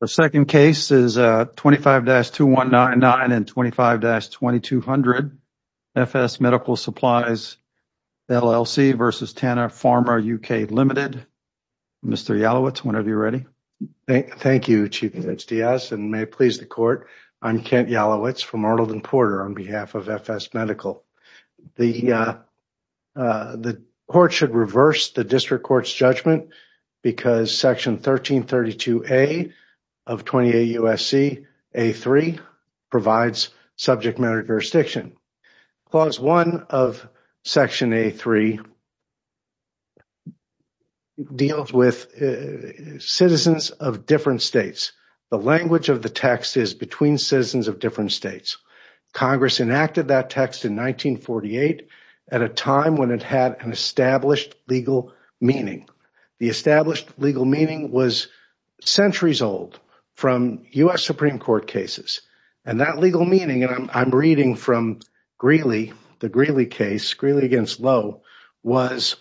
The second case is 25-2199 and 25-2200 FS Medical Supplies, LLC v. Tanner Pharma UK Limited. Mr. Yalowitz, whenever you're ready. Thank you, Chief Judge Diaz, and may it please the court, I'm Kent Yalowitz from Arlington Porter on behalf of FS Medical. The court should reverse the district court's judgment because Section 1332A of 20A U.S.C. A3 provides subject matter jurisdiction. Clause 1 of Section A3 deals with citizens of different states. The language of the text is between citizens of Congress enacted that text in 1948 at a time when it had an established legal meaning. The established legal meaning was centuries old from U.S. Supreme Court cases, and that legal meaning, and I'm reading from the Greeley case, Greeley v. Lowe, was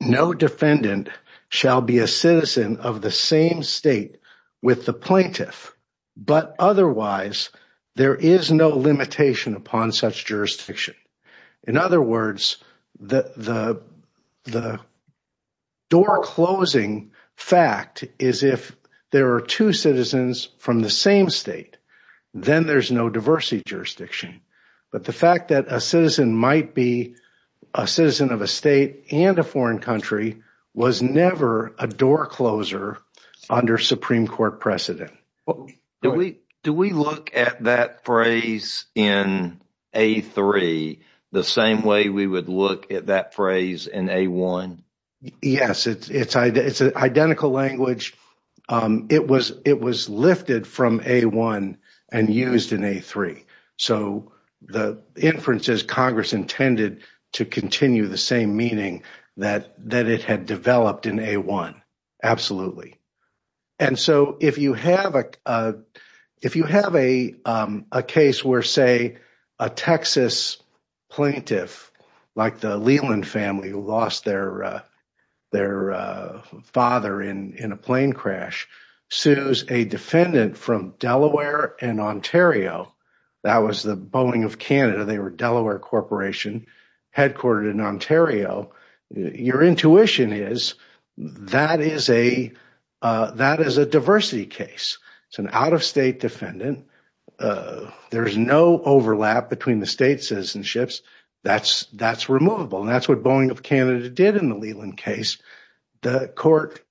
no defendant shall be a same state with the plaintiff, but otherwise there is no limitation upon such jurisdiction. In other words, the door-closing fact is if there are two citizens from the same state, then there's no diversity jurisdiction. But the fact that a citizen might be a citizen of a state and a foreign country was never a door-closer under Supreme Court precedent. Do we look at that phrase in A3 the same way we would look at that phrase in A1? Yes, it's an identical language. It was lifted from A1 and used in A3. So the inference is intended to continue the same meaning that it had developed in A1, absolutely. If you have a case where, say, a Texas plaintiff, like the Leland family who lost their father in a plane crash, sues a defendant from Delaware and Ontario, that was the Boeing of Delaware Corporation, headquartered in Ontario, your intuition is that is a diversity case. It's an out-of-state defendant. There's no overlap between the state citizenships. That's removable, and that's what Boeing of Canada did in the Leland case. The court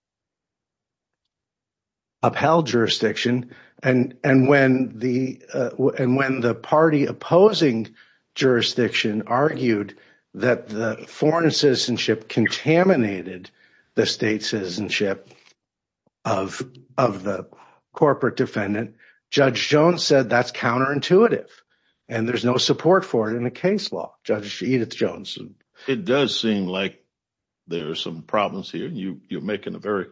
upheld jurisdiction, and when the party opposing jurisdiction argued that the foreign citizenship contaminated the state citizenship of the corporate defendant, Judge Jones said that's counterintuitive, and there's no support for it in the case law, Judge Edith Jones. It does seem like there are some problems here. You're making a very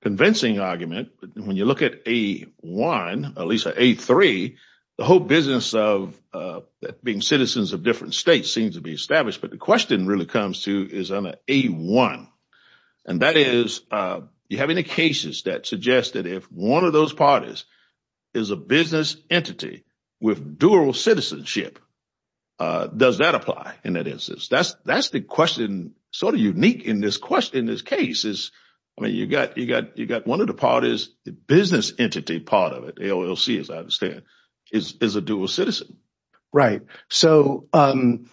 convincing argument. When you look at A1, at least A3, the whole business of being citizens of different states seems to be established, but the question really comes to is on A1, and that is you have any cases that suggest that if one of those parties is a business entity with dual citizenship, does that apply in that instance? That's the question sort of unique in this case. You got one of the parties, the business entity part of it, AOLC as I understand, is a dual citizen. Right. The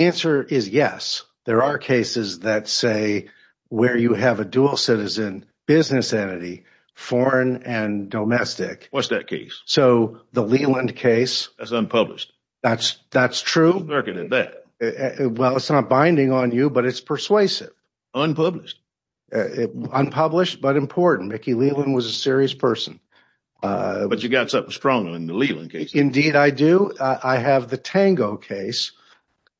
answer is yes. There are cases that say where you have a dual citizen business entity, foreign and domestic. What's that case? The Leland case. That's unpublished. That's true. Well, it's not binding on you, but it's persuasive. Unpublished. Unpublished, but important. Mickey Leland was a serious person. But you got something strong in the Leland case. Indeed, I do. I have the Tango case,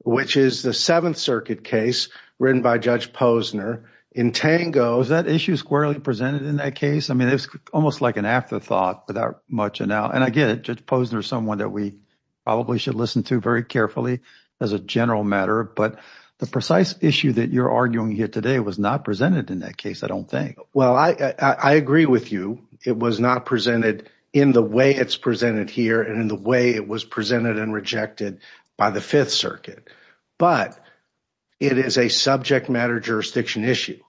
which is the Seventh Circuit case written by Judge Posner in Tango. Is that issue squarely presented in that case? I mean, it's almost like an afterthought without much, and I get it. Judge Posner is someone that we probably should listen to very carefully as a general matter. But the precise issue that you're arguing here today was not presented in that case, I don't think. Well, I agree with you. It was not presented in the way it's presented here and in the way it was presented and rejected by the Fifth Circuit. But it is a subject matter jurisdiction issue.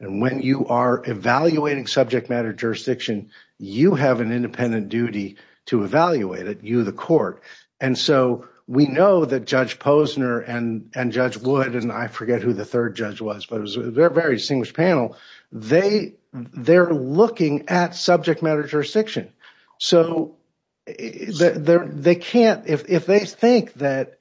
And when you are evaluating subject matter jurisdiction, you have an independent duty to evaluate it, you the court. And so we know that Judge Posner and Judge Wood, and I forget who the third judge was, but it was a very distinguished panel. They're looking at subject matter jurisdiction. So they can't, if they think that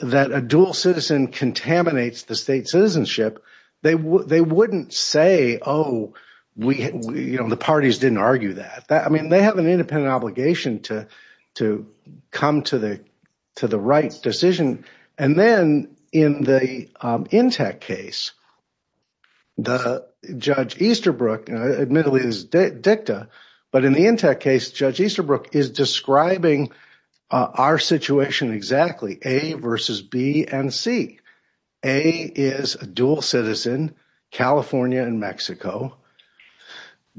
a dual citizen contaminates the state citizenship, they wouldn't say, oh, the parties didn't argue that. I mean, they have an independent obligation to come to the right decision. And then in the Intech case, Judge Easterbrook, admittedly it's dicta, but in the Intech case, Judge Easterbrook is describing our situation exactly, A versus B and C. A is a dual citizen, California and Mexico.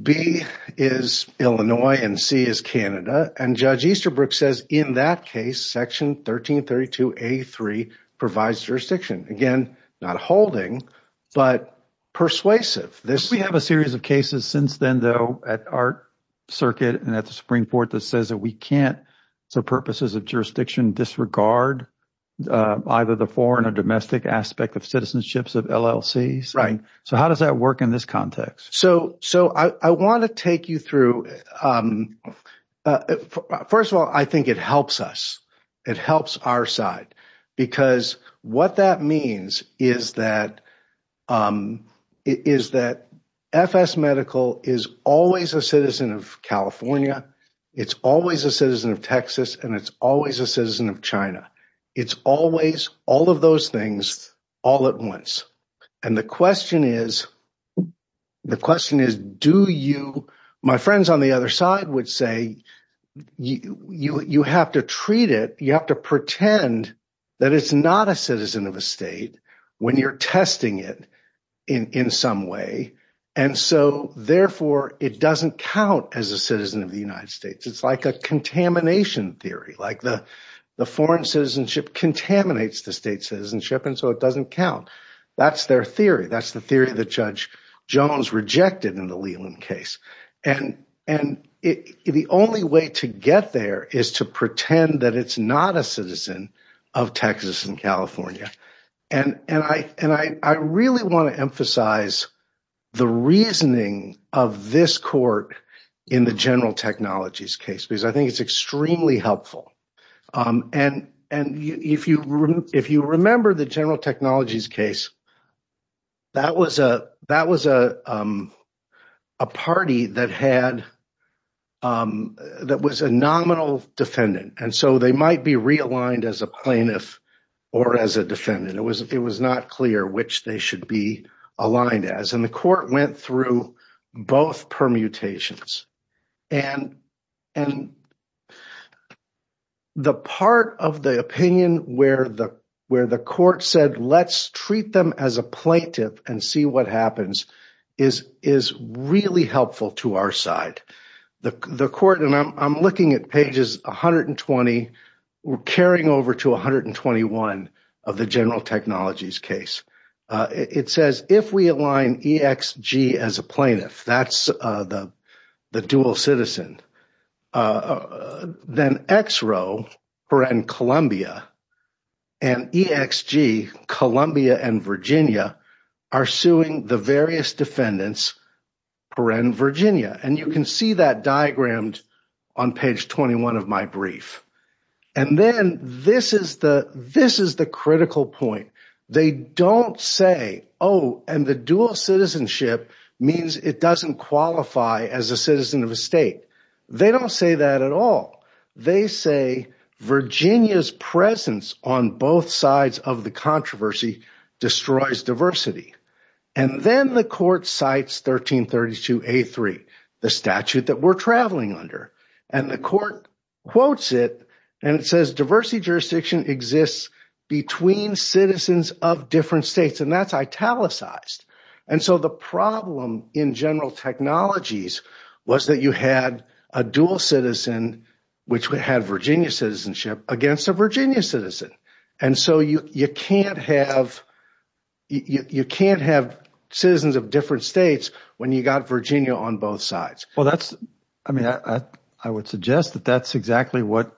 B is Illinois and C is Canada. And Judge Easterbrook says in that case, section 1332A3 provides jurisdiction. Again, not holding, but persuasive. We have a series of cases since then, though, at our circuit and at disregard, either the foreign or domestic aspect of citizenships of LLCs. So how does that work in this context? So I want to take you through, first of all, I think it helps us. It helps our side, because what that means is that FS Medical is always a citizen of California. It's always a citizen of China. It's always all of those things all at once. And the question is, the question is, do you, my friends on the other side would say, you have to treat it, you have to pretend that it's not a citizen of a state when you're testing it in some way. And so therefore, it doesn't count as a citizen of the United States. It's like a contamination theory, like the foreign citizenship contaminates the state citizenship, and so it doesn't count. That's their theory. That's the theory that Judge Jones rejected in the Leland case. And the only way to get there is to pretend that it's not a citizen of Texas and California. And I really want to emphasize the reasoning of this court in the general technologies case, because I think it's extremely helpful. And if you remember the general technologies case, that was a party that was a nominal defendant. And so they might be realigned as a plaintiff or as a defendant. It was not clear which they should be aligned as. And the court went through both permutations. And the part of the opinion where the court said, let's treat them as a plaintiff and see what happens is really helpful to our side. The court, and I'm looking at pages 120, we're carrying over to 121 of the general technologies case. It says, if we align EXG as a plaintiff, that's the dual citizen, then XRO, peren Columbia, and EXG, Columbia and Virginia, are suing the various defendants, peren Virginia. And you can see that diagram on page 21 of my means it doesn't qualify as a citizen of a state. They don't say that at all. They say, Virginia's presence on both sides of the controversy destroys diversity. And then the court cites 1332A3, the statute that we're traveling under. And the court quotes it, and it says diversity jurisdiction exists between citizens of different states, and that's italicized. And so the problem in general technologies was that you had a dual citizen, which would have Virginia citizenship against a Virginia citizen. And so you can't have citizens of different states when you got Virginia on both sides. Well, that's, I mean, I would suggest that that's exactly what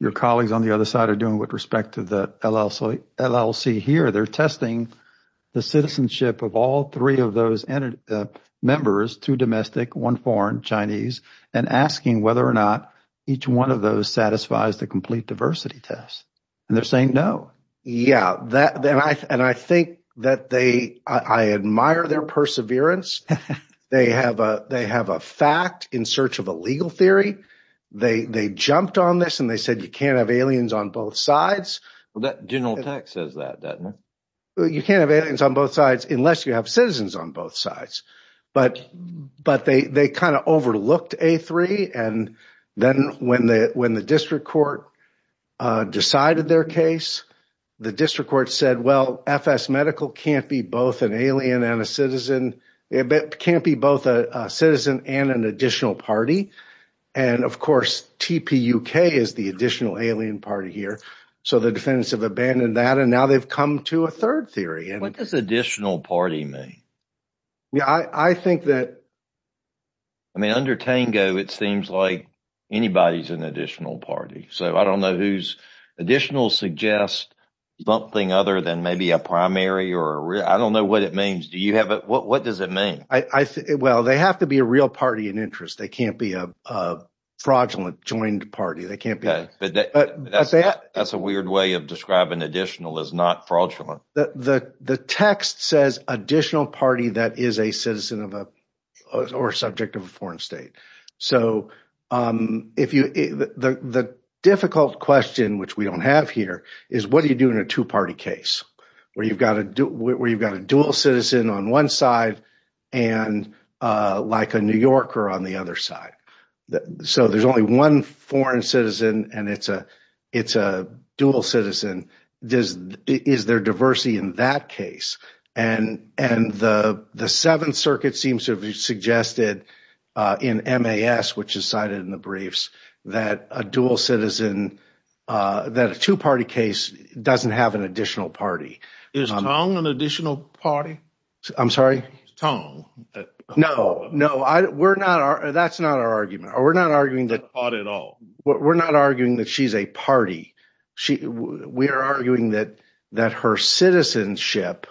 your colleagues on the other side are doing with respect to the LLC here. They're testing the citizenship of all three of those members, two domestic, one foreign, Chinese, and asking whether or not each one of those satisfies the complete diversity test. And they're saying no. Yeah. And I think that they, I admire their perseverance. They have a fact in search of a legal theory. They jumped on this and they said, you can't have aliens on both sides. Well, that general text says that, doesn't it? You can't have aliens on both sides unless you have citizens on both sides. But they kind of overlooked A3. And then when the district court decided their case, the district court said, well, FS Medical can't be both an alien and a citizen, can't be both a citizen and an additional party. And of course, TPUK is the additional alien party here. So the defendants have abandoned that and now they've come to a third theory. What does additional party mean? Yeah, I think that, I mean, under Tango, it seems like anybody's an additional party. So I don't know whose additional suggests something other than maybe a primary or a real, I don't know what it means. Do you have, what does it mean? Well, they have to be a real party in interest. They can't be a fraudulent joined party. But that's a weird way of describing additional as not fraudulent. The text says additional party that is a citizen or subject of a foreign state. So the difficult question, which we don't have here, is what do you do in a two-party case where you've got a dual citizen on one side and like a New Yorker on the other side? So there's only one foreign citizen and it's a dual citizen. Is there diversity in that case? And the Seventh Circuit seems to have suggested in MAS, which is cited in the briefs, that a dual citizen, that a two-party case doesn't have an additional party. Is Tong an additional party? I'm sorry? Tong. No, no, that's not our argument. We're not arguing that she's a party. We are arguing that her citizenship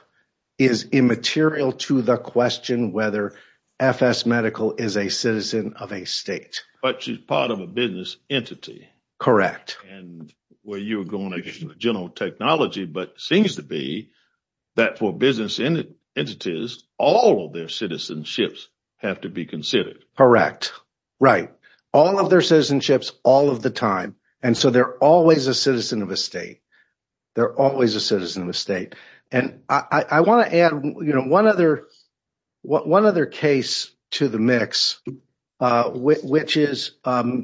is immaterial to the question whether FS Medical is a citizen of a state. But she's part of a business entity. Correct. And where you were going, General Technology, but seems to be that for business entities, all of their citizenships have to be considered. Correct. Right. All of their citizenships all of the time. And so they're always a citizen of a state. They're always a citizen of a state. And I want to add one other case to the mix, which is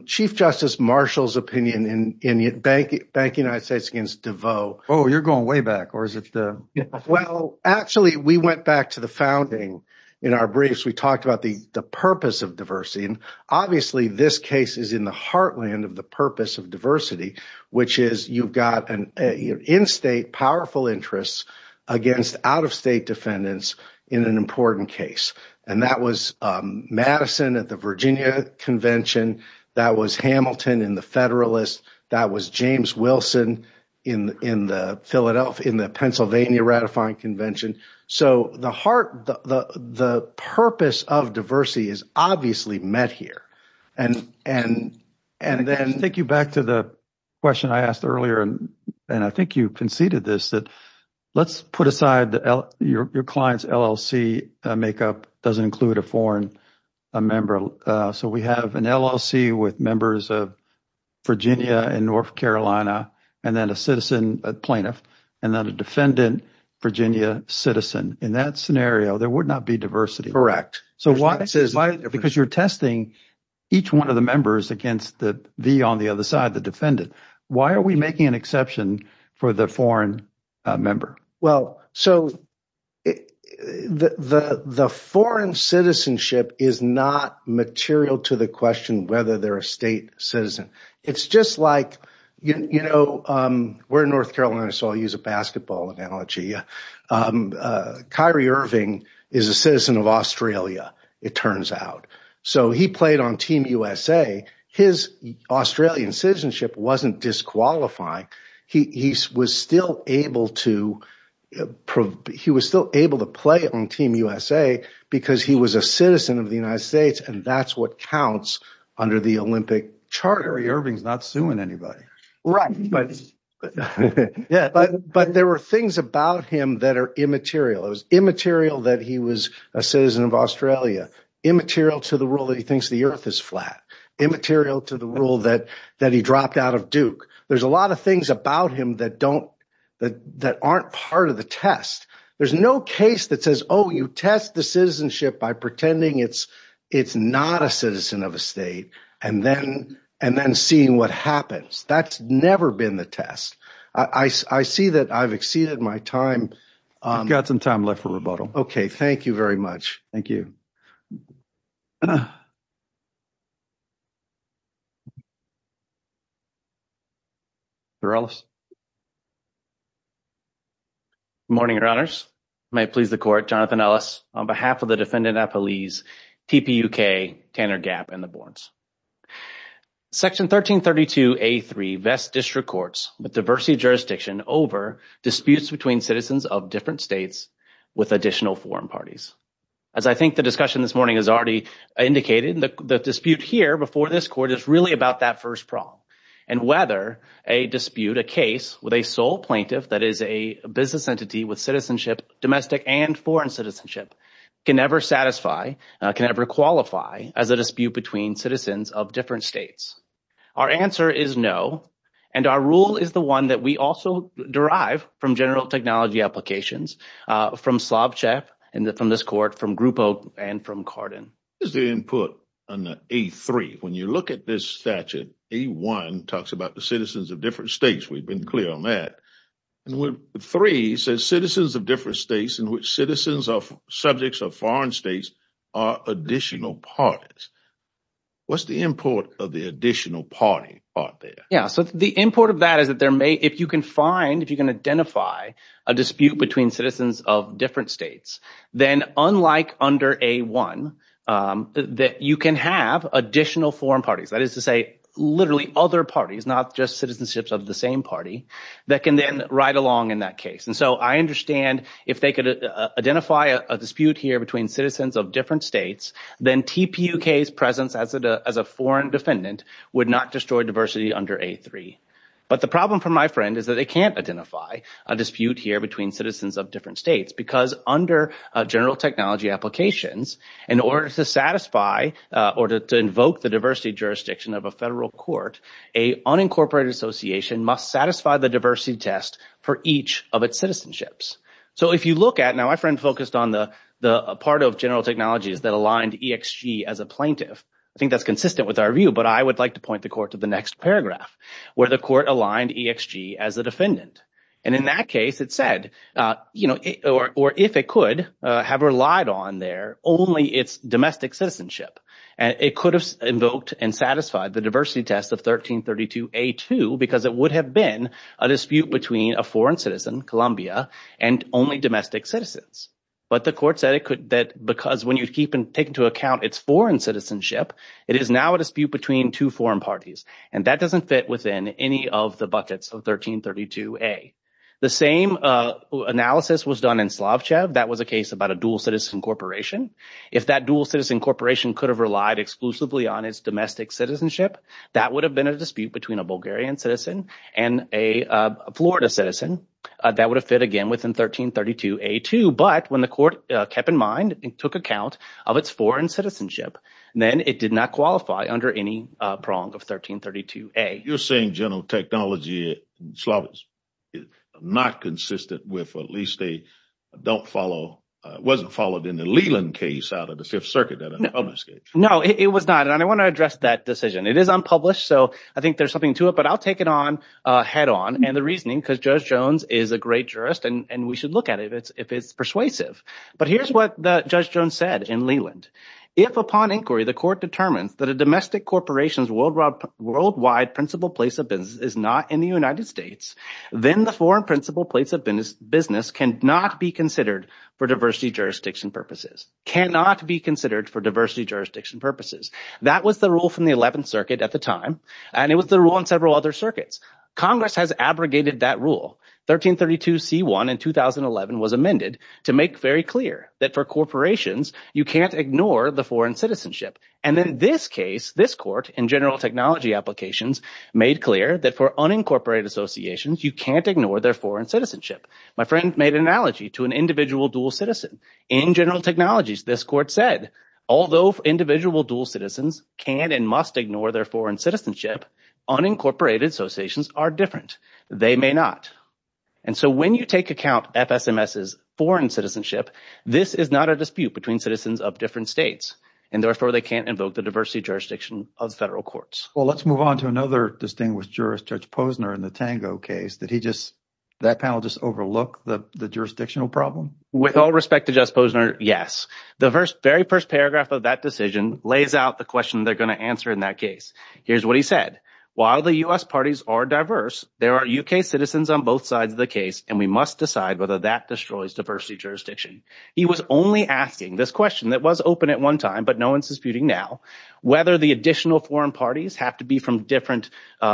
Chief Justice Marshall's opinion in Bank of the United States against DeVos. Oh, you're going way back. Or is it the... Well, actually, we went back to the founding. In our briefs, we talked about the purpose of diversity. And obviously, this case is in the heartland of the purpose of diversity, which is you've got an in-state powerful interest against out-of-state defendants in an important case. And that was Madison at the Virginia Convention. That was Hamilton in the Federalist. That was James Wilson in the Pennsylvania Ratifying Convention. So the heart, the purpose of diversity is obviously met here. And then... Take you back to the question I asked earlier, and I think you conceded this, that let's put aside your client's LLC makeup doesn't include a foreign member. So we have an LLC with members of Virginia and North Carolina, and then a citizen, a plaintiff, and then a defendant, Virginia citizen. In that scenario, there would not be diversity. Correct. So why... Because you're testing each one of the members against the V on the other side, the defendant. Why are we making an exception for the foreign member? Well, so the foreign citizenship is not material to the question whether they're a state citizen. It's just like... We're in North Carolina, so I'll use a basketball analogy. Kyrie Irving is a citizen of Australia, it turns out. So he played on Team USA. His Australian citizenship wasn't disqualifying. He was still able to play on Team USA because he was a citizen of the United States, and that's what counts under the Olympic charter. Kyrie Irving's not suing anybody. Right. But there were things about him that are immaterial. It was immaterial that he was a citizen of Australia, immaterial to the rule that he thinks the earth is flat, immaterial to the rule that he dropped out of Duke. There's a lot of things about him that aren't part of the test. There's no case that says, oh, you test the citizenship by pretending it's not a citizen of a state, and then seeing what happens. That's never been the test. I see that I've exceeded my time. You've got some time left for rebuttal. Okay. Thank you very much. Thank you. Good morning, your honors. May it please the court, Jonathan Ellis, on behalf of the defendant at police, TPUK, Tanner Gap, and the boards. Section 1332A3 vests district courts with diversity of jurisdiction over disputes between citizens of different states with additional foreign parties. As I think the discussion this morning has already indicated, the dispute here before this court is really about that first problem, and whether a dispute, a case with a sole plaintiff that is a business entity with citizenship, domestic and foreign citizenship, can ever satisfy, can ever qualify as a dispute between citizens of different states. Our answer is no, and our rule is the one that we also derive from general technology applications from Slobchap, and from this court, from Grupo, and from Carden. This is the input on the A3. When you look at this statute, A1 talks about the citizens of different states. We've been clear on that. And with the three, it says citizens of different states in which citizens are subjects of foreign states are additional parties. What's the import of the additional party part there? Yeah, so the import of that is that there may, if you can find, if you can identify a dispute between citizens of different states, then unlike under A1, that you can have additional foreign parties, that is to say, literally other parties, not just citizenships of the same party, that can then ride along in that case. And so I understand if they could identify a dispute here between citizens of different states, then TPUK's presence as a foreign defendant would not destroy diversity under A3. But the problem for my friend is that they can't identify a dispute here between citizens of different states, because under general technology applications, in order to satisfy, or to invoke the diversity jurisdiction of a federal court, a unincorporated association must satisfy the diversity test for each of its citizenships. So if you look at, now my friend focused on the part of general technologies that aligned EXG as a plaintiff. I think that's consistent with our view, but I would like to point the court to the next paragraph, where the court aligned EXG as a defendant. And in that case, it said, or if it could, have relied on there only its domestic citizenship. And it could have invoked and satisfied the diversity test of 1332 A2, because it would have been a dispute between a foreign citizen, Colombia, and only domestic citizens. But the court said that because when you take into account its foreign citizenship, it is now a dispute between two foreign parties. And that doesn't fit within any of the buckets of 1332 A. The same analysis was done in Slavchev. That was a case about a dual citizen corporation. If that dual citizen corporation could have relied exclusively on its domestic citizenship, that would have been a dispute between a Bulgarian citizen and a Florida citizen. That would have fit again within 1332 A2. But when the court kept in mind and took account of its foreign citizenship, then it did not qualify under any prong of 1332 A. You're saying general technology in Slavs is not consistent with, or at least they don't follow, wasn't followed in the Leland case out of the Fifth Circuit. No, it was not. And I want to address that decision. It is unpublished, so I think there's something to it. But I'll take it on head on and the reasoning, because Judge Jones is a great jurist, and we should look at it if it's persuasive. But here's what Judge Jones said in Leland. If upon inquiry, the court determines that a domestic corporation's worldwide principal place of business is not in the United States, then the foreign principal place of business cannot be considered for diversity jurisdiction purposes. Cannot be considered for diversity jurisdiction purposes. That was the rule from the Eleventh Circuit at the time, and it was the rule in several other circuits. Congress has abrogated that rule. 1332 C.1 in 2011 was amended to make very clear that for corporations, you can't ignore the foreign citizenship. And in this case, this court in general technology applications made clear that for unincorporated associations, you can't ignore their foreign citizenship. My friend made an analogy to an individual dual citizen. In general technologies, this court said, although individual dual citizens can and must ignore their foreign citizenship, unincorporated associations are different. They may not. And so when you take account FSMS's foreign citizenship, this is not a dispute between citizens of different states, and therefore they can't invoke the diversity jurisdiction of federal courts. Well, let's move on to another distinguished jurist, Judge Posner in the Tango case. Did he just, that panel just overlook the jurisdictional problem? With all respect to Judge Posner, yes. The very first paragraph of that decision lays out the question they're going to answer in that case. Here's what he said. While the U.S. parties are diverse, there are U.K. citizens on both sides of the case, and we must decide whether that destroys diversity jurisdiction. He was only asking this question that was open at one time, but no one's disputing now, whether the additional foreign parties have to be from different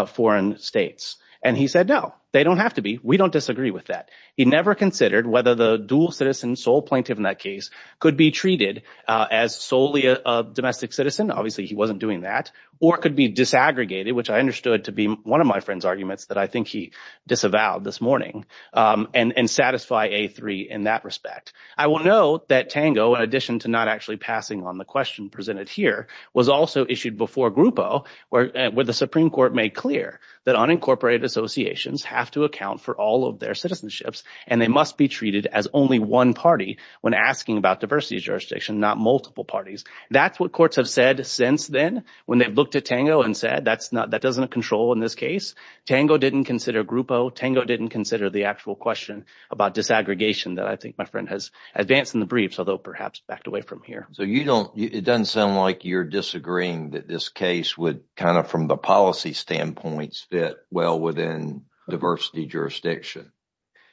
foreign states. And he said, no, they don't have to be. We don't disagree with that. He never considered whether the dual citizen, sole plaintiff in that case, could be treated as solely a domestic citizen. Obviously, he wasn't doing that. Or it could be disaggregated, which I understood to be one of my friend's arguments that I think he disavowed this morning, and satisfy A3 in that respect. I will note that Tango, in addition to not actually passing on the question presented here, also issued before Grupo, where the Supreme Court made clear that unincorporated associations have to account for all of their citizenships, and they must be treated as only one party when asking about diversity jurisdiction, not multiple parties. That's what courts have said since then, when they looked at Tango and said, that doesn't control in this case. Tango didn't consider Grupo. Tango didn't consider the actual question about disaggregation that I think my friend has advanced in the briefs, although perhaps backed away from here. It doesn't sound like you're disagreeing that this case would, kind of from the policy standpoints, fit well within diversity jurisdiction.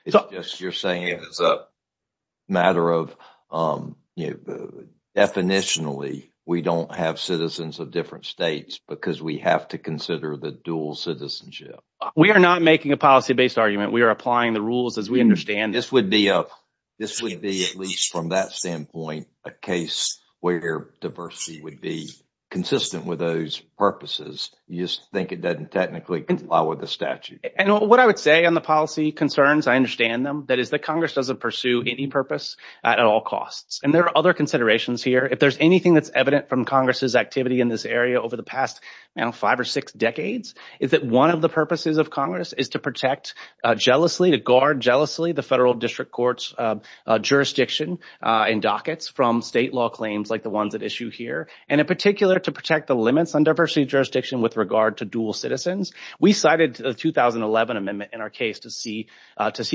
It's just you're saying it's a matter of definitionally, we don't have citizens of different states because we have to consider the dual citizenship. We are not making a policy-based argument. We are applying the rules as we understand them. This would be, at least from that standpoint, a case where diversity would be consistent with those purposes. You just think it doesn't technically comply with the statute. And what I would say on the policy concerns, I understand them, that is that Congress doesn't pursue any purpose at all costs. And there are other considerations here. If there's anything that's evident from Congress's activity in this area over the past, I don't know, five or six decades, is that one of the purposes of Congress is to protect jealously, to guard jealously the federal district court's jurisdiction and dockets from state law claims like the ones at issue here. And in particular, to protect the limits on diversity jurisdiction with regard to dual citizens. We cited the 2011 amendment in our case to see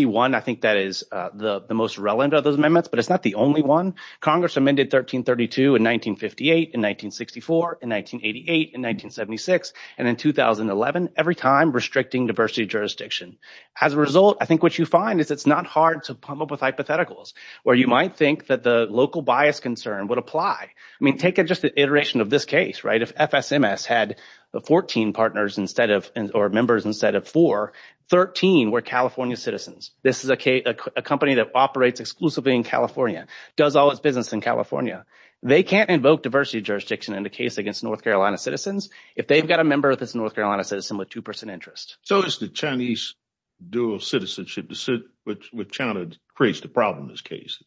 one. I think that is the most relevant of those amendments, but it's not the only one. Congress amended 1332 in 1958, in 1964, in 1988, in 1976, and in 2011, every time restricting diversity jurisdiction. As a result, I think what you find is it's not hard to come up with hypotheticals where you might think that the local bias concern would apply. I mean, take it just an iteration of this case, right? If FSMS had 14 partners instead of, or members instead of four, 13 were California citizens. This is a company that operates exclusively in California, does all its business in California. They can't invoke diversity jurisdiction in the case against North Carolina citizens if they've got a member of this North Carolina citizen with 2% interest. So is the Chinese dual citizenship with China creates the problem in this case?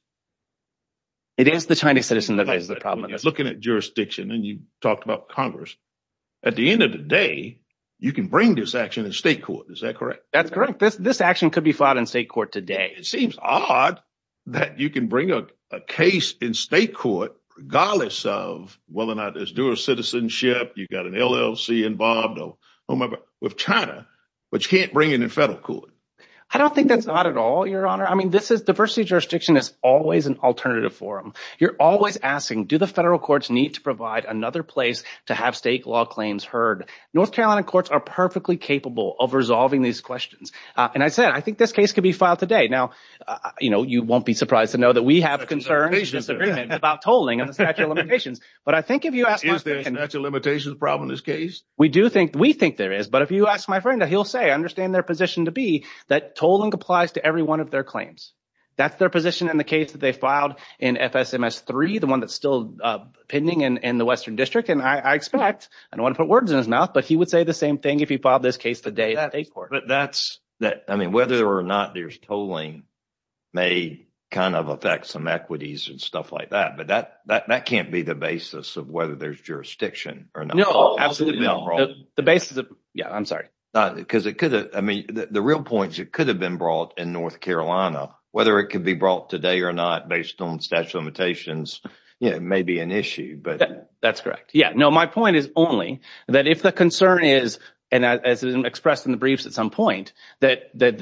It is the Chinese citizen that is the problem. When you're looking at jurisdiction and you talked about Congress, at the end of the day, you can bring this action in state court. Is that correct? That's correct. This action could be filed in state court today. It seems odd that you can bring a case in state court, regardless of whether or not it's dual citizenship, you've got an LLC involved with China, but you can't bring it in federal court. I don't think that's odd at all, Your Honor. I mean, diversity jurisdiction is always an alternative forum. You're always asking, do the federal courts need to provide another place to have state law claims heard? North Carolina courts are perfectly capable of resolving these questions. And I said, I think this case could be filed today. Now, you won't be surprised to know that we have concerns about tolling on the statute of limitations. But I think if you ask- Is there a statute of limitations problem in this case? We do think, we think there is. But if you ask my friend, he'll say, I understand their position to be that tolling applies to every one of their claims. That's their position in the case that they filed in FSMS-3, the one that's still pending in the Western District. And I expect, I don't want to put words in his mouth, but he would say the same thing if he filed this case today at state court. But that's, I mean, whether or not there's tolling may kind of affect some equities and stuff like that. That can't be the basis of whether there's jurisdiction or not. No, absolutely not. The basis of, yeah, I'm sorry. Because it could, I mean, the real point is it could have been brought in North Carolina. Whether it could be brought today or not based on statute of limitations, you know, may be an issue, but- That's correct. Yeah, no, my point is only that if the concern is, and as expressed in the briefs at some point, that they're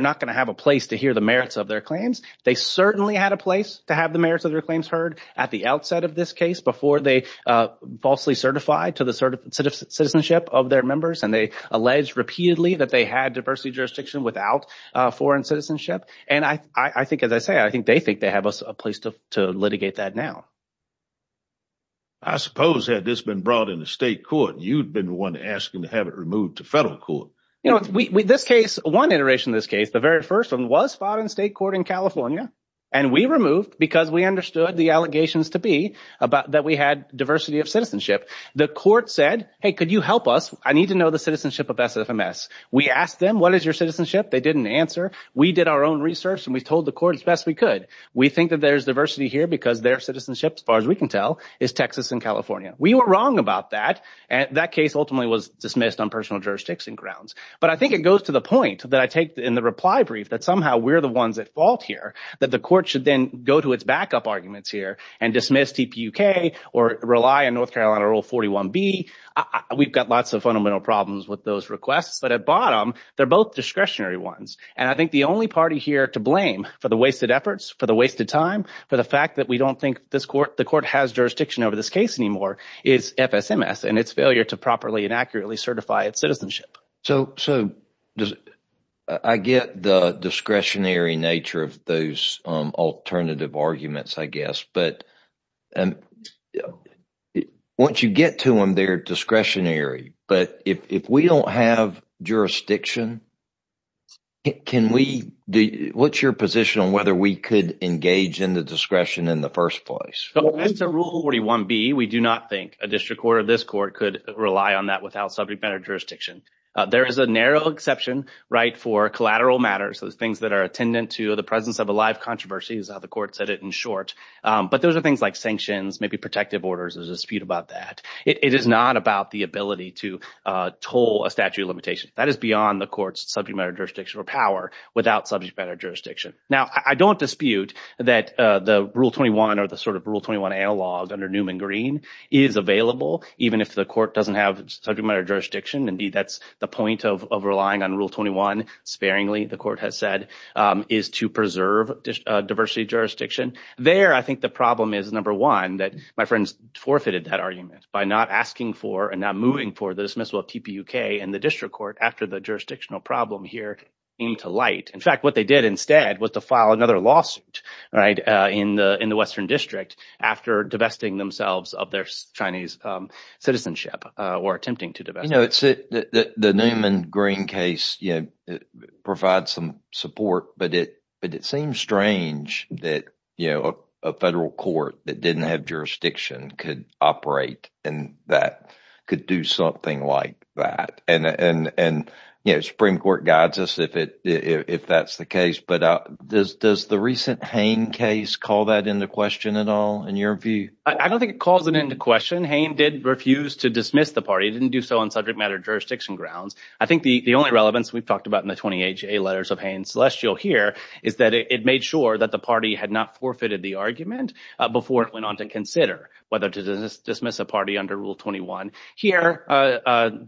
not going to have a place to hear the merits of their claims. They certainly had a place to have the merits of their claims heard at the outset of this case before they falsely certified to the citizenship of their members. And they alleged repeatedly that they had diversity jurisdiction without foreign citizenship. And I think, as I say, I think they think they have a place to litigate that now. I suppose had this been brought into state court, you'd been the one asking to have it removed to federal court. You know, this case, one iteration of this case, the very first one was filed in state court in California. And we removed because we understood the allegations to be about that we had diversity of citizenship. The court said, hey, could you help us? I need to know the citizenship of SFMS. We asked them, what is your citizenship? They didn't answer. We did our own research and we told the court as best we could. We think that there's diversity here because their citizenship, as far as we can tell, is Texas and California. We were wrong about that. And that case ultimately was dismissed on personal jurisdiction grounds. But I think it goes to the point that I take in the reply brief that somehow we're the ones at fault here, that the court should then go to its backup arguments here and dismiss TPUK or rely on North Carolina Rule 41B. We've got lots of fundamental problems with those requests. But at bottom, they're both discretionary ones. And I think the only party here to blame for the wasted efforts, for the wasted time, for the fact that we don't think this court, the court has jurisdiction over this case anymore, is FSMS and its failure to properly and accurately certify its citizenship. So I get the discretionary nature of those alternative arguments, I guess. But once you get to them, they're discretionary. But if we don't have jurisdiction, what's your position on whether we could engage in the discretion in the first place? So as to Rule 41B, we do not think a district court or this court could rely on that without subject matter jurisdiction. There is a narrow exception, right, for collateral matters. Those things that are attendant to the presence of a live controversy is how the court said it in short. But those are things like sanctions, maybe protective orders. There's a dispute about that. It is not about the ability to toll a statute of limitations. That is beyond the court's subject matter jurisdiction or power without subject matter jurisdiction. Now, I don't dispute that the Rule 21 or the sort of Rule 21 analog under Newman Green is available, even if the court doesn't have subject matter jurisdiction. Indeed, that's the point of relying on Rule 21, sparingly, the court has said, is to preserve diversity jurisdiction. There, I think the problem is, number one, that my friends forfeited that argument by not asking for and not moving for the dismissal of TPUK in the district court after the jurisdictional problem here came to light. In fact, what they did instead was to file another lawsuit, right, in the Western District after divesting themselves of their Chinese citizenship or attempting to divest. The Newman Green case provides some support, but it seems strange that a federal court that didn't have jurisdiction could operate and that could do something like that. Supreme Court guides us if that's the case, but does the recent Hain case call that into question at all, in your view? I don't think it calls it into question. Hain did refuse to dismiss the party. He didn't do so on subject matter jurisdiction grounds. I think the only relevance we've talked about in the 28 JA letters of Hain and Celestial here is that it made sure that the party had not forfeited the argument before it went on to consider whether to dismiss a party under Rule 21. Here,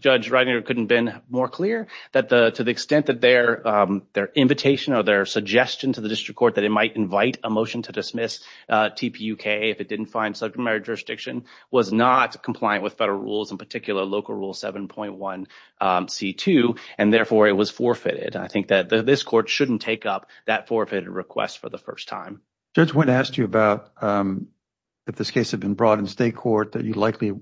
Judge Reitinger couldn't have been more clear that to the extent that their invitation or their suggestion to the district court that it might invite a motion to dismiss TPUK if it didn't find subject matter jurisdiction was not compliant with federal rules, in particular Local Rule 7.1c2, and therefore it was forfeited. I think that this court shouldn't take up that forfeited request for the first time. Judge, when asked you about if this case had been brought in state court that you likely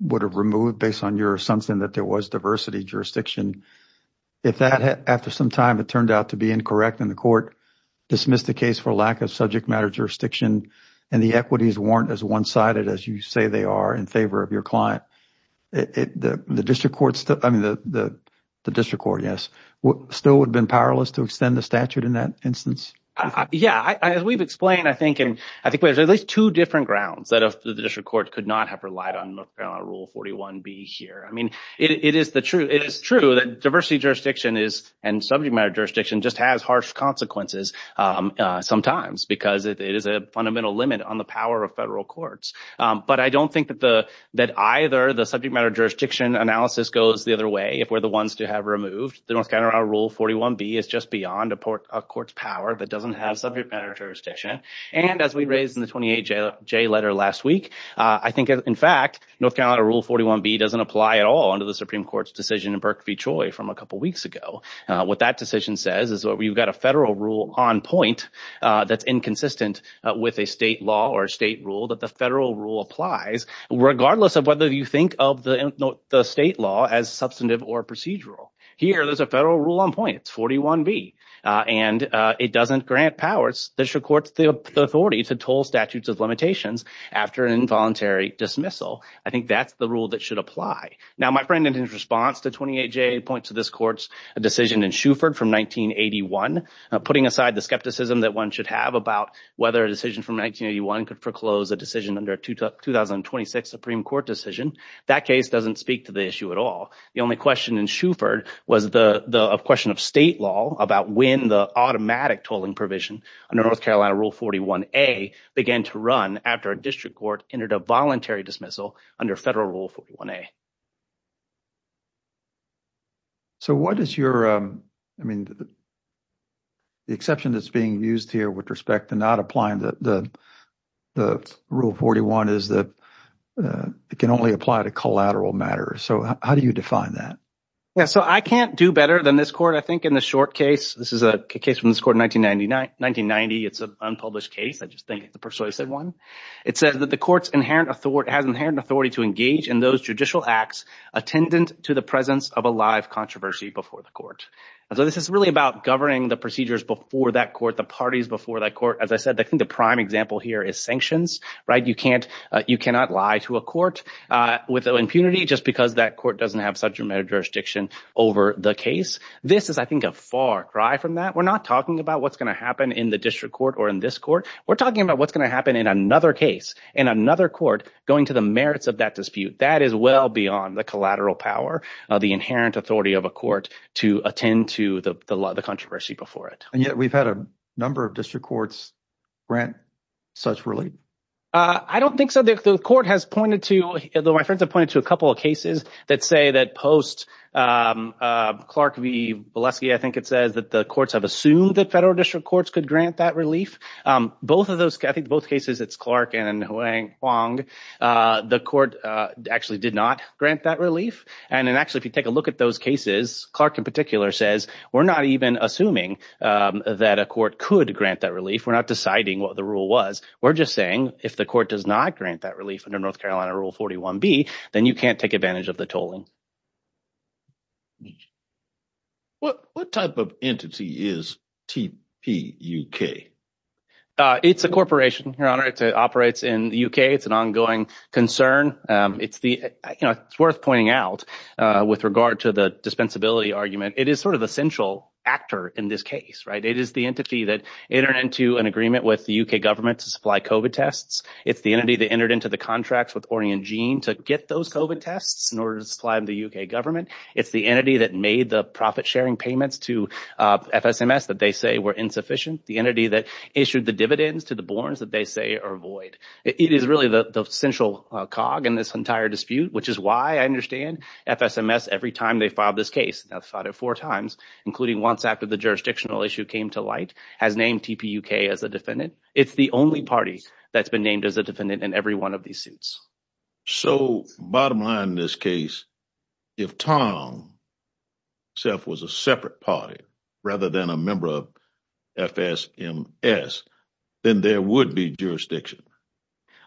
would have removed based on your assumption that there was diversity jurisdiction, if that, after some time, it turned out to be incorrect and the court dismissed the case for lack of subject matter jurisdiction and the equities weren't as one-sided as you say they are in favor of your client, the district court, yes, still would have been powerless to extend the statute in that instance? Yeah, as we've explained, I think there's at least two different grounds that the district court could not have relied on Rule 41b here. I mean, it is true that diversity jurisdiction and subject matter jurisdiction just has harsh consequences sometimes because it is a fundamental limit on the power of federal courts. But I don't think that either the subject matter jurisdiction analysis goes the other way if we're the ones to have removed. The North Carolina Rule 41b is just beyond a court's power that doesn't have subject matter jurisdiction. And as we raised in the 28J letter last week, I think, in fact, North Carolina Rule 41b doesn't apply at all under the Supreme Court's decision in Berk v. Choi from a couple weeks ago. What that decision says is you've got a federal rule on point that's inconsistent with a state law or a state rule that the federal rule applies regardless of whether you think of the state law as substantive or procedural. Here, there's a federal rule on point. It's 41b, and it doesn't grant powers, district courts, the authority to toll statutes of limitations after an involuntary dismissal. I think that's the rule that should apply. Now, my friend, in his response to 28J, points to this court's decision in Shuford from 1981, putting aside the skepticism that one should have about whether a decision from 1981 could foreclose a decision under a 2026 Supreme Court decision. That case doesn't speak to the issue at all. The only question in Shuford was the question of state law about when the automatic tolling provision under North Carolina Rule 41a began to run after a district court entered a voluntary dismissal under federal Rule 41a. So what is your, I mean, the exception that's being used here with respect to not applying the Rule 41 is that it can only apply to collateral matters. So how do you define that? Yeah, so I can't do better than this court. I think in the short case, this is a case from this court in 1990. It's an unpublished case. I just think it's a persuasive one. It says that the court has inherent authority to engage in those judicial actions attendant to the presence of a live controversy before the court. And so this is really about governing the procedures before that court, the parties before that court. As I said, I think the prime example here is sanctions, right, you cannot lie to a court with impunity just because that court doesn't have such a jurisdiction over the case. This is, I think, a far cry from that. We're not talking about what's gonna happen in the district court or in this court. We're talking about what's gonna happen in another case, in another court going to the merits of that dispute. That is well beyond the collateral power of the inherent authority of a court to attend to the controversy before it. And yet we've had a number of district courts grant such relief. I don't think so. The court has pointed to, though my friends have pointed to a couple of cases that say that post Clark v. Valesky, I think it says that the courts have assumed that federal district courts could grant that relief. Both of those, I think both cases, it's Clark and Huang. The court actually did not grant that relief. And then actually, if you take a look at those cases, Clark in particular says, we're not even assuming that a court could grant that relief. We're not deciding what the rule was. We're just saying, if the court does not grant that relief under North Carolina Rule 41B, then you can't take advantage of the tolling. What type of entity is TPUK? It's a corporation, Your Honor. It operates in the UK. It's an ongoing concern. It's worth pointing out with regard to the dispensability argument. It is sort of the central actor in this case. It is the entity that entered into an agreement with the UK government to supply COVID tests. It's the entity that entered into the contracts with Ornian Gene to get those COVID tests in order to supply them to the UK government. It's the entity that made the profit sharing payments to FSMS that they say were insufficient. The entity that issued the dividends to the Borns that they say are void. It is really the central cog in this entire dispute, which is why I understand FSMS every time they filed this case. They've filed it four times, including once after the jurisdictional issue came to light, has named TPUK as a defendant. It's the only party that's been named as a defendant in every one of these suits. So bottom line in this case, if Tom himself was a separate party rather than a member of FSMS, then there would be jurisdiction.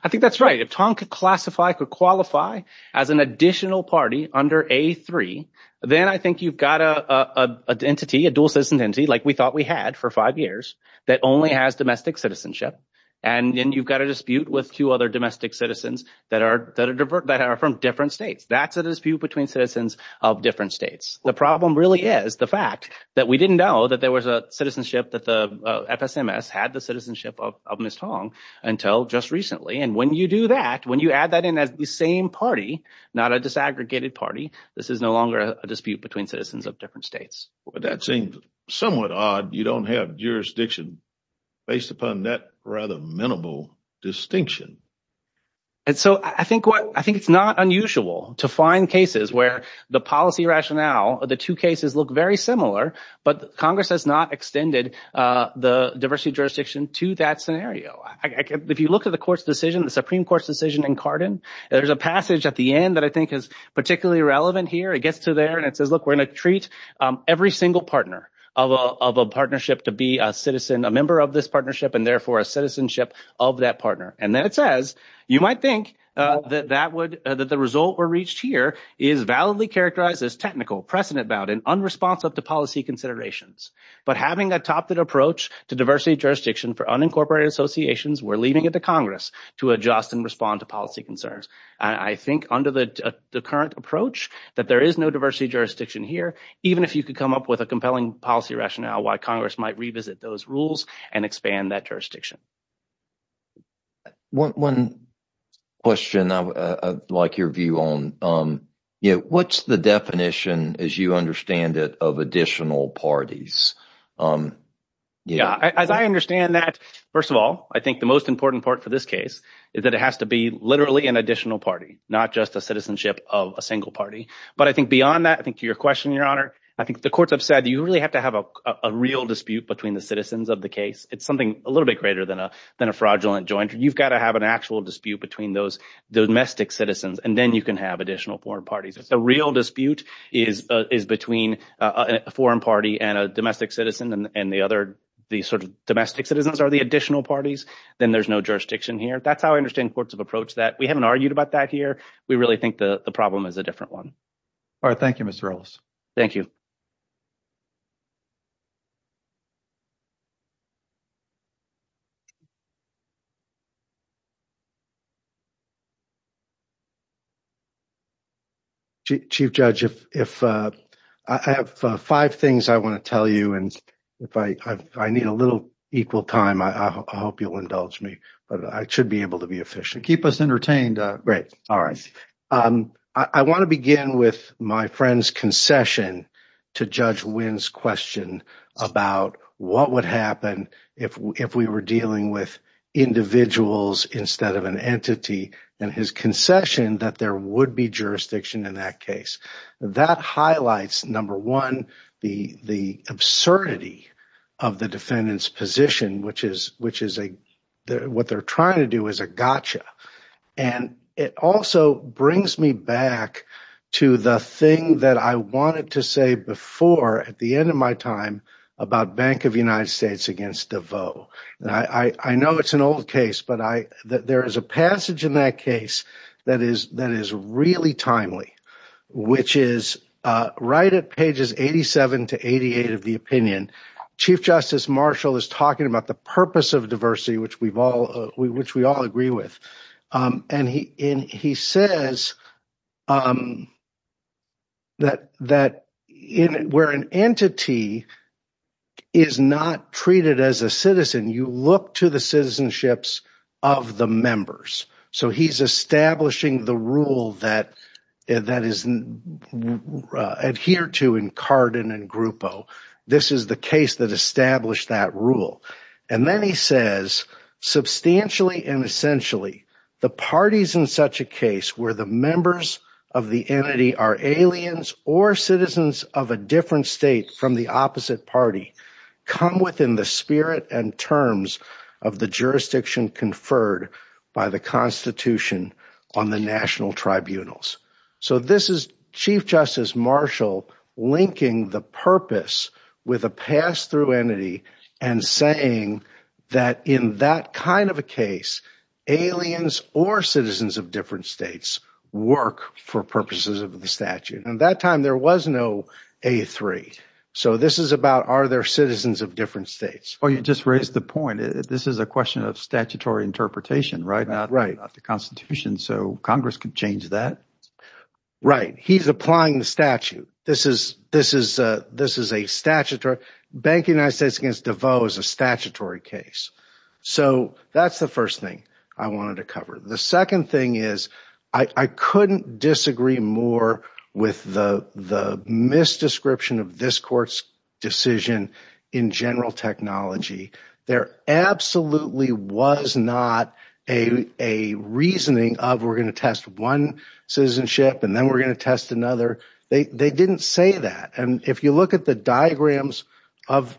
I think that's right. If Tom could classify, could qualify as an additional party under A3, then I think you've got a dual citizen entity like we thought we had for five years that only has domestic citizenship. And then you've got a dispute with two other domestic citizens that are from different states. That's a dispute between citizens of different states. The problem really is the fact that we didn't know that there was a citizenship that the FSMS had the citizenship of Ms. Tong until just recently. And when you do that, when you add that in as the same party, not a disaggregated party, this is no longer a dispute between citizens of different states. But that seems somewhat odd. You don't have jurisdiction based upon that rather minimal distinction. And so I think it's not unusual to find cases where the policy rationale of the two cases look very similar, but Congress has not extended the diversity jurisdiction to that scenario. If you look at the Supreme Court's decision in Carden, there's a passage at the end that I think is particularly relevant here. It gets to there and it says, look, we're gonna treat every single partner of a partnership to be a citizen, a member of this partnership and therefore a citizenship of that partner. And then it says, you might think that the result we reached here is validly characterized as technical, precedent bound and unresponsive to policy considerations. But having a top that approach to diversity jurisdiction for unincorporated associations, we're leaving it to Congress to adjust and respond to policy concerns. I think under the current approach that there is no diversity jurisdiction here, even if you could come up with a compelling policy rationale why Congress might revisit those rules and expand that jurisdiction. One question I'd like your view on, what's the definition as you understand it of additional parties? Yeah, as I understand that, first of all, I think the most important part for this case is that it has to be literally an additional party, not just a citizenship of a single party. But I think beyond that, I think to your question, Your Honor, I think the courts have said you really have to have a real dispute between the citizens of the case. It's something a little bit greater than a fraudulent joint. You've gotta have an actual dispute between those domestic citizens and then you can have additional foreign parties. If the real dispute is between a foreign party and a domestic citizen and the other, the sort of domestic citizens are the additional parties, then there's no jurisdiction here. That's how I understand courts have approached that. We haven't argued about that here. We really think the problem is a different one. All right, thank you, Mr. Ellis. Thank you. Chief Judge, if I have five things I want to tell you, and if I need a little equal time, I hope you'll indulge me, but I should be able to be efficient. Keep us entertained. Great, all right. I want to begin with my friend's concession to Judge Wynn's question about what would happen if we were dealing with individuals instead of an entity and his concession that there would be jurisdiction in that case. That highlights, number one, the absurdity of the defendant's position, what they're trying to do is a gotcha. And it also brings me back to the thing that I wanted to say before at the end of my time about Bank of United States against DeVos. I know it's an old case, but there is a passage in that case that is really timely. Which is right at pages 87 to 88 of the opinion, Chief Justice Marshall is talking about the purpose of diversity, which we all agree with. And he says that where an entity is not treated as a citizen, you look to the citizenships of the members. So he's establishing the rule that is adhered to in Carden and Grupo. This is the case that established that rule. And then he says, substantially and essentially, the parties in such a case where the members of the entity are aliens or citizens of a different state from the opposite party come within the spirit and terms of the jurisdiction conferred by the Constitution on the national tribunals. So this is Chief Justice Marshall linking the purpose with a pass-through entity and saying that in that kind of a case, aliens or citizens of different states work for purposes of the statute. And that time there was no A3. So this is about are there citizens of different states? Well, you just raised the point. This is a question of statutory interpretation, right? Not the Constitution. So Congress could change that. Right. He's applying the statute. This is a statutory. Banking United States against DeVos is a statutory case. So that's the first thing I wanted to cover. The second thing is I couldn't disagree more with the misdescription of this court's decision in general technology. There absolutely was not a reasoning of we're going to test one citizenship and then we're going to test another. They didn't say that. And if you look at the diagrams of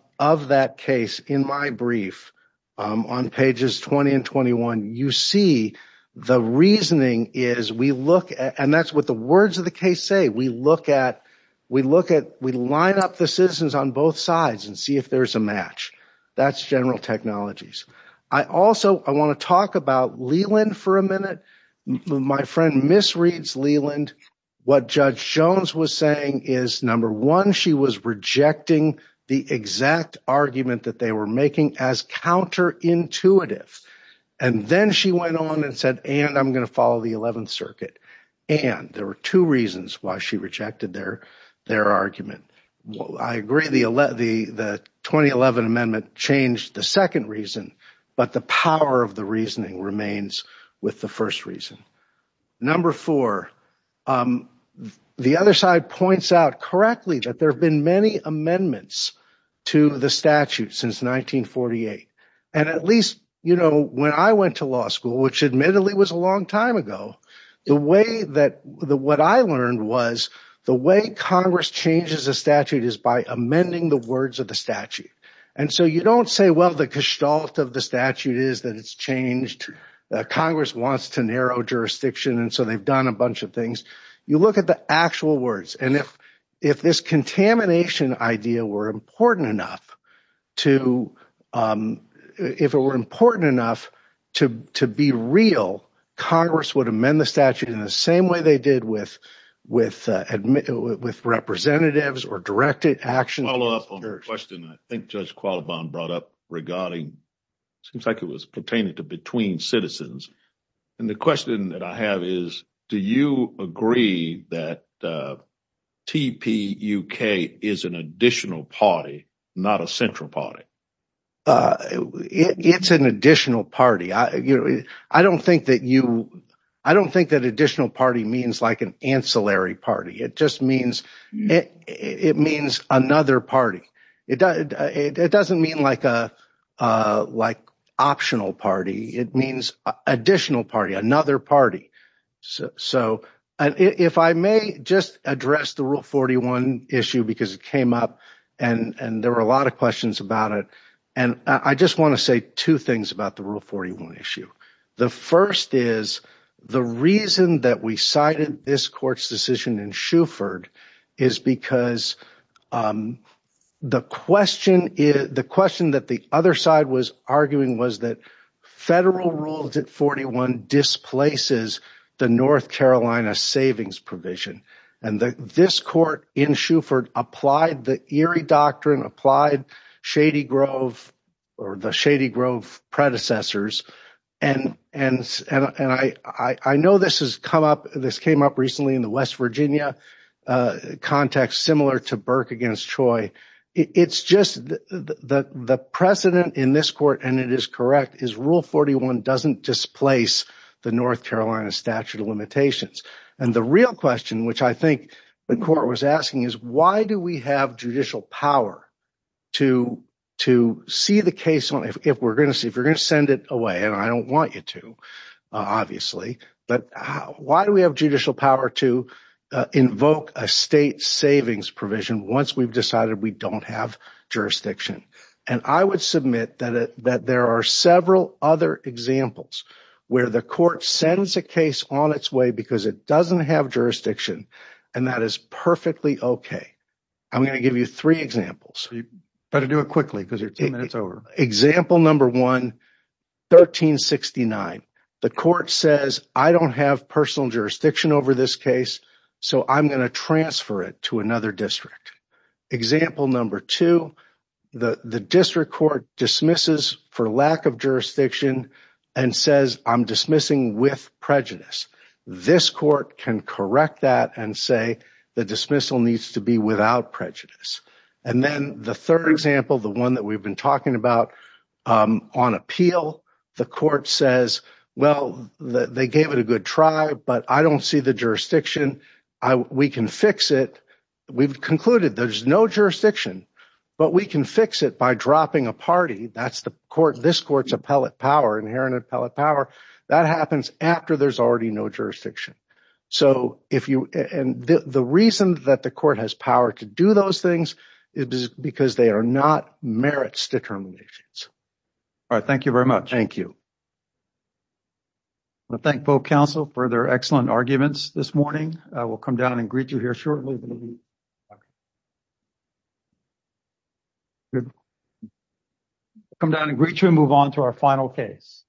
that case in my brief on pages 20 and 21, you see the reasoning is we look and that's what the words of the case say. We look at, we look at, we line up the citizens on both sides and see if there's a match. That's general technologies. I also, I want to talk about Leland for a minute. My friend misreads Leland. What Judge Jones was saying is, number one, she was rejecting the exact argument that they were making as counterintuitive. And then she went on and said, and I'm going to follow the 11th Circuit. And there were two reasons why she rejected their argument. I agree the 2011 amendment changed the second reason, but the power of the reasoning remains with the first reason. Number four, the other side points out correctly that there have been many amendments to the statute since 1948. And at least, you know, when I went to law school, which admittedly was a long time ago, the way that, what I learned was the way Congress changes a statute is by amending the words of the statute. And so you don't say, well, the gestalt of the statute is that it's changed. Congress wants to narrow jurisdiction and so they've done a bunch of things. You look at the actual words. And if this contamination idea were important enough to, if it were important enough to be real, Congress would amend the statute in the same way they did with representatives or directed action. I'll follow up on your question. I think Judge Qualibon brought up regarding, seems like it was pertaining to between citizens. And the question that I have is, do you agree that TPUK is an additional party, not a central party? It's an additional party. I don't think that you, I don't think that additional party means like an ancillary party. It just means, it means another party. It doesn't mean like optional party. It means additional party, another party. So if I may just address the Rule 41 issue because it came up and there were a lot of questions about it. And I just want to say two things about the Rule 41 issue. The first is, the reason that we cited this court's decision in Shuford is because the question is, the question that the other side was arguing was that federal Rule 41 displaces the North Carolina Savings Provision. And this court in Shuford applied the Erie Doctrine, applied Shady Grove or the Shady Grove predecessors. And I know this has come up, this came up recently in the West Virginia context, similar to Burke against Choi. It's just the precedent in this court and it is correct, is Rule 41 doesn't displace the North Carolina Statute of Limitations. And the real question, which I think the court was asking is why do we have judicial power to see the case if we're going to see, and I don't want you to, but why do we have judicial power to invoke a state savings provision once we've decided we don't have jurisdiction? And I would submit that there are several other examples where the court sends a case on its way because it doesn't have jurisdiction and that is perfectly okay. I'm going to give you three examples. So you better do it quickly because you're 10 minutes over. Example number one, 1369. The court says, I don't have personal jurisdiction over this case, so I'm going to transfer it to another district. Example number two, the district court dismisses for lack of jurisdiction and says I'm dismissing with prejudice. This court can correct that and say the dismissal needs to be without prejudice. And then the third example, the one that we've been talking about on appeal, the court says, well, they gave it a good try, but I don't see the jurisdiction. We can fix it. We've concluded there's no jurisdiction, but we can fix it by dropping a party. That's the court, this court's appellate power, inherent appellate power. That happens after there's already no jurisdiction. So if you, and the reason that the court has power to do those things is because they are not merits determinations. All right. Thank you very much. Thank you. I thank both counsel for their excellent arguments this morning. I will come down and greet you here shortly. Come down and greet you and move on to our final case.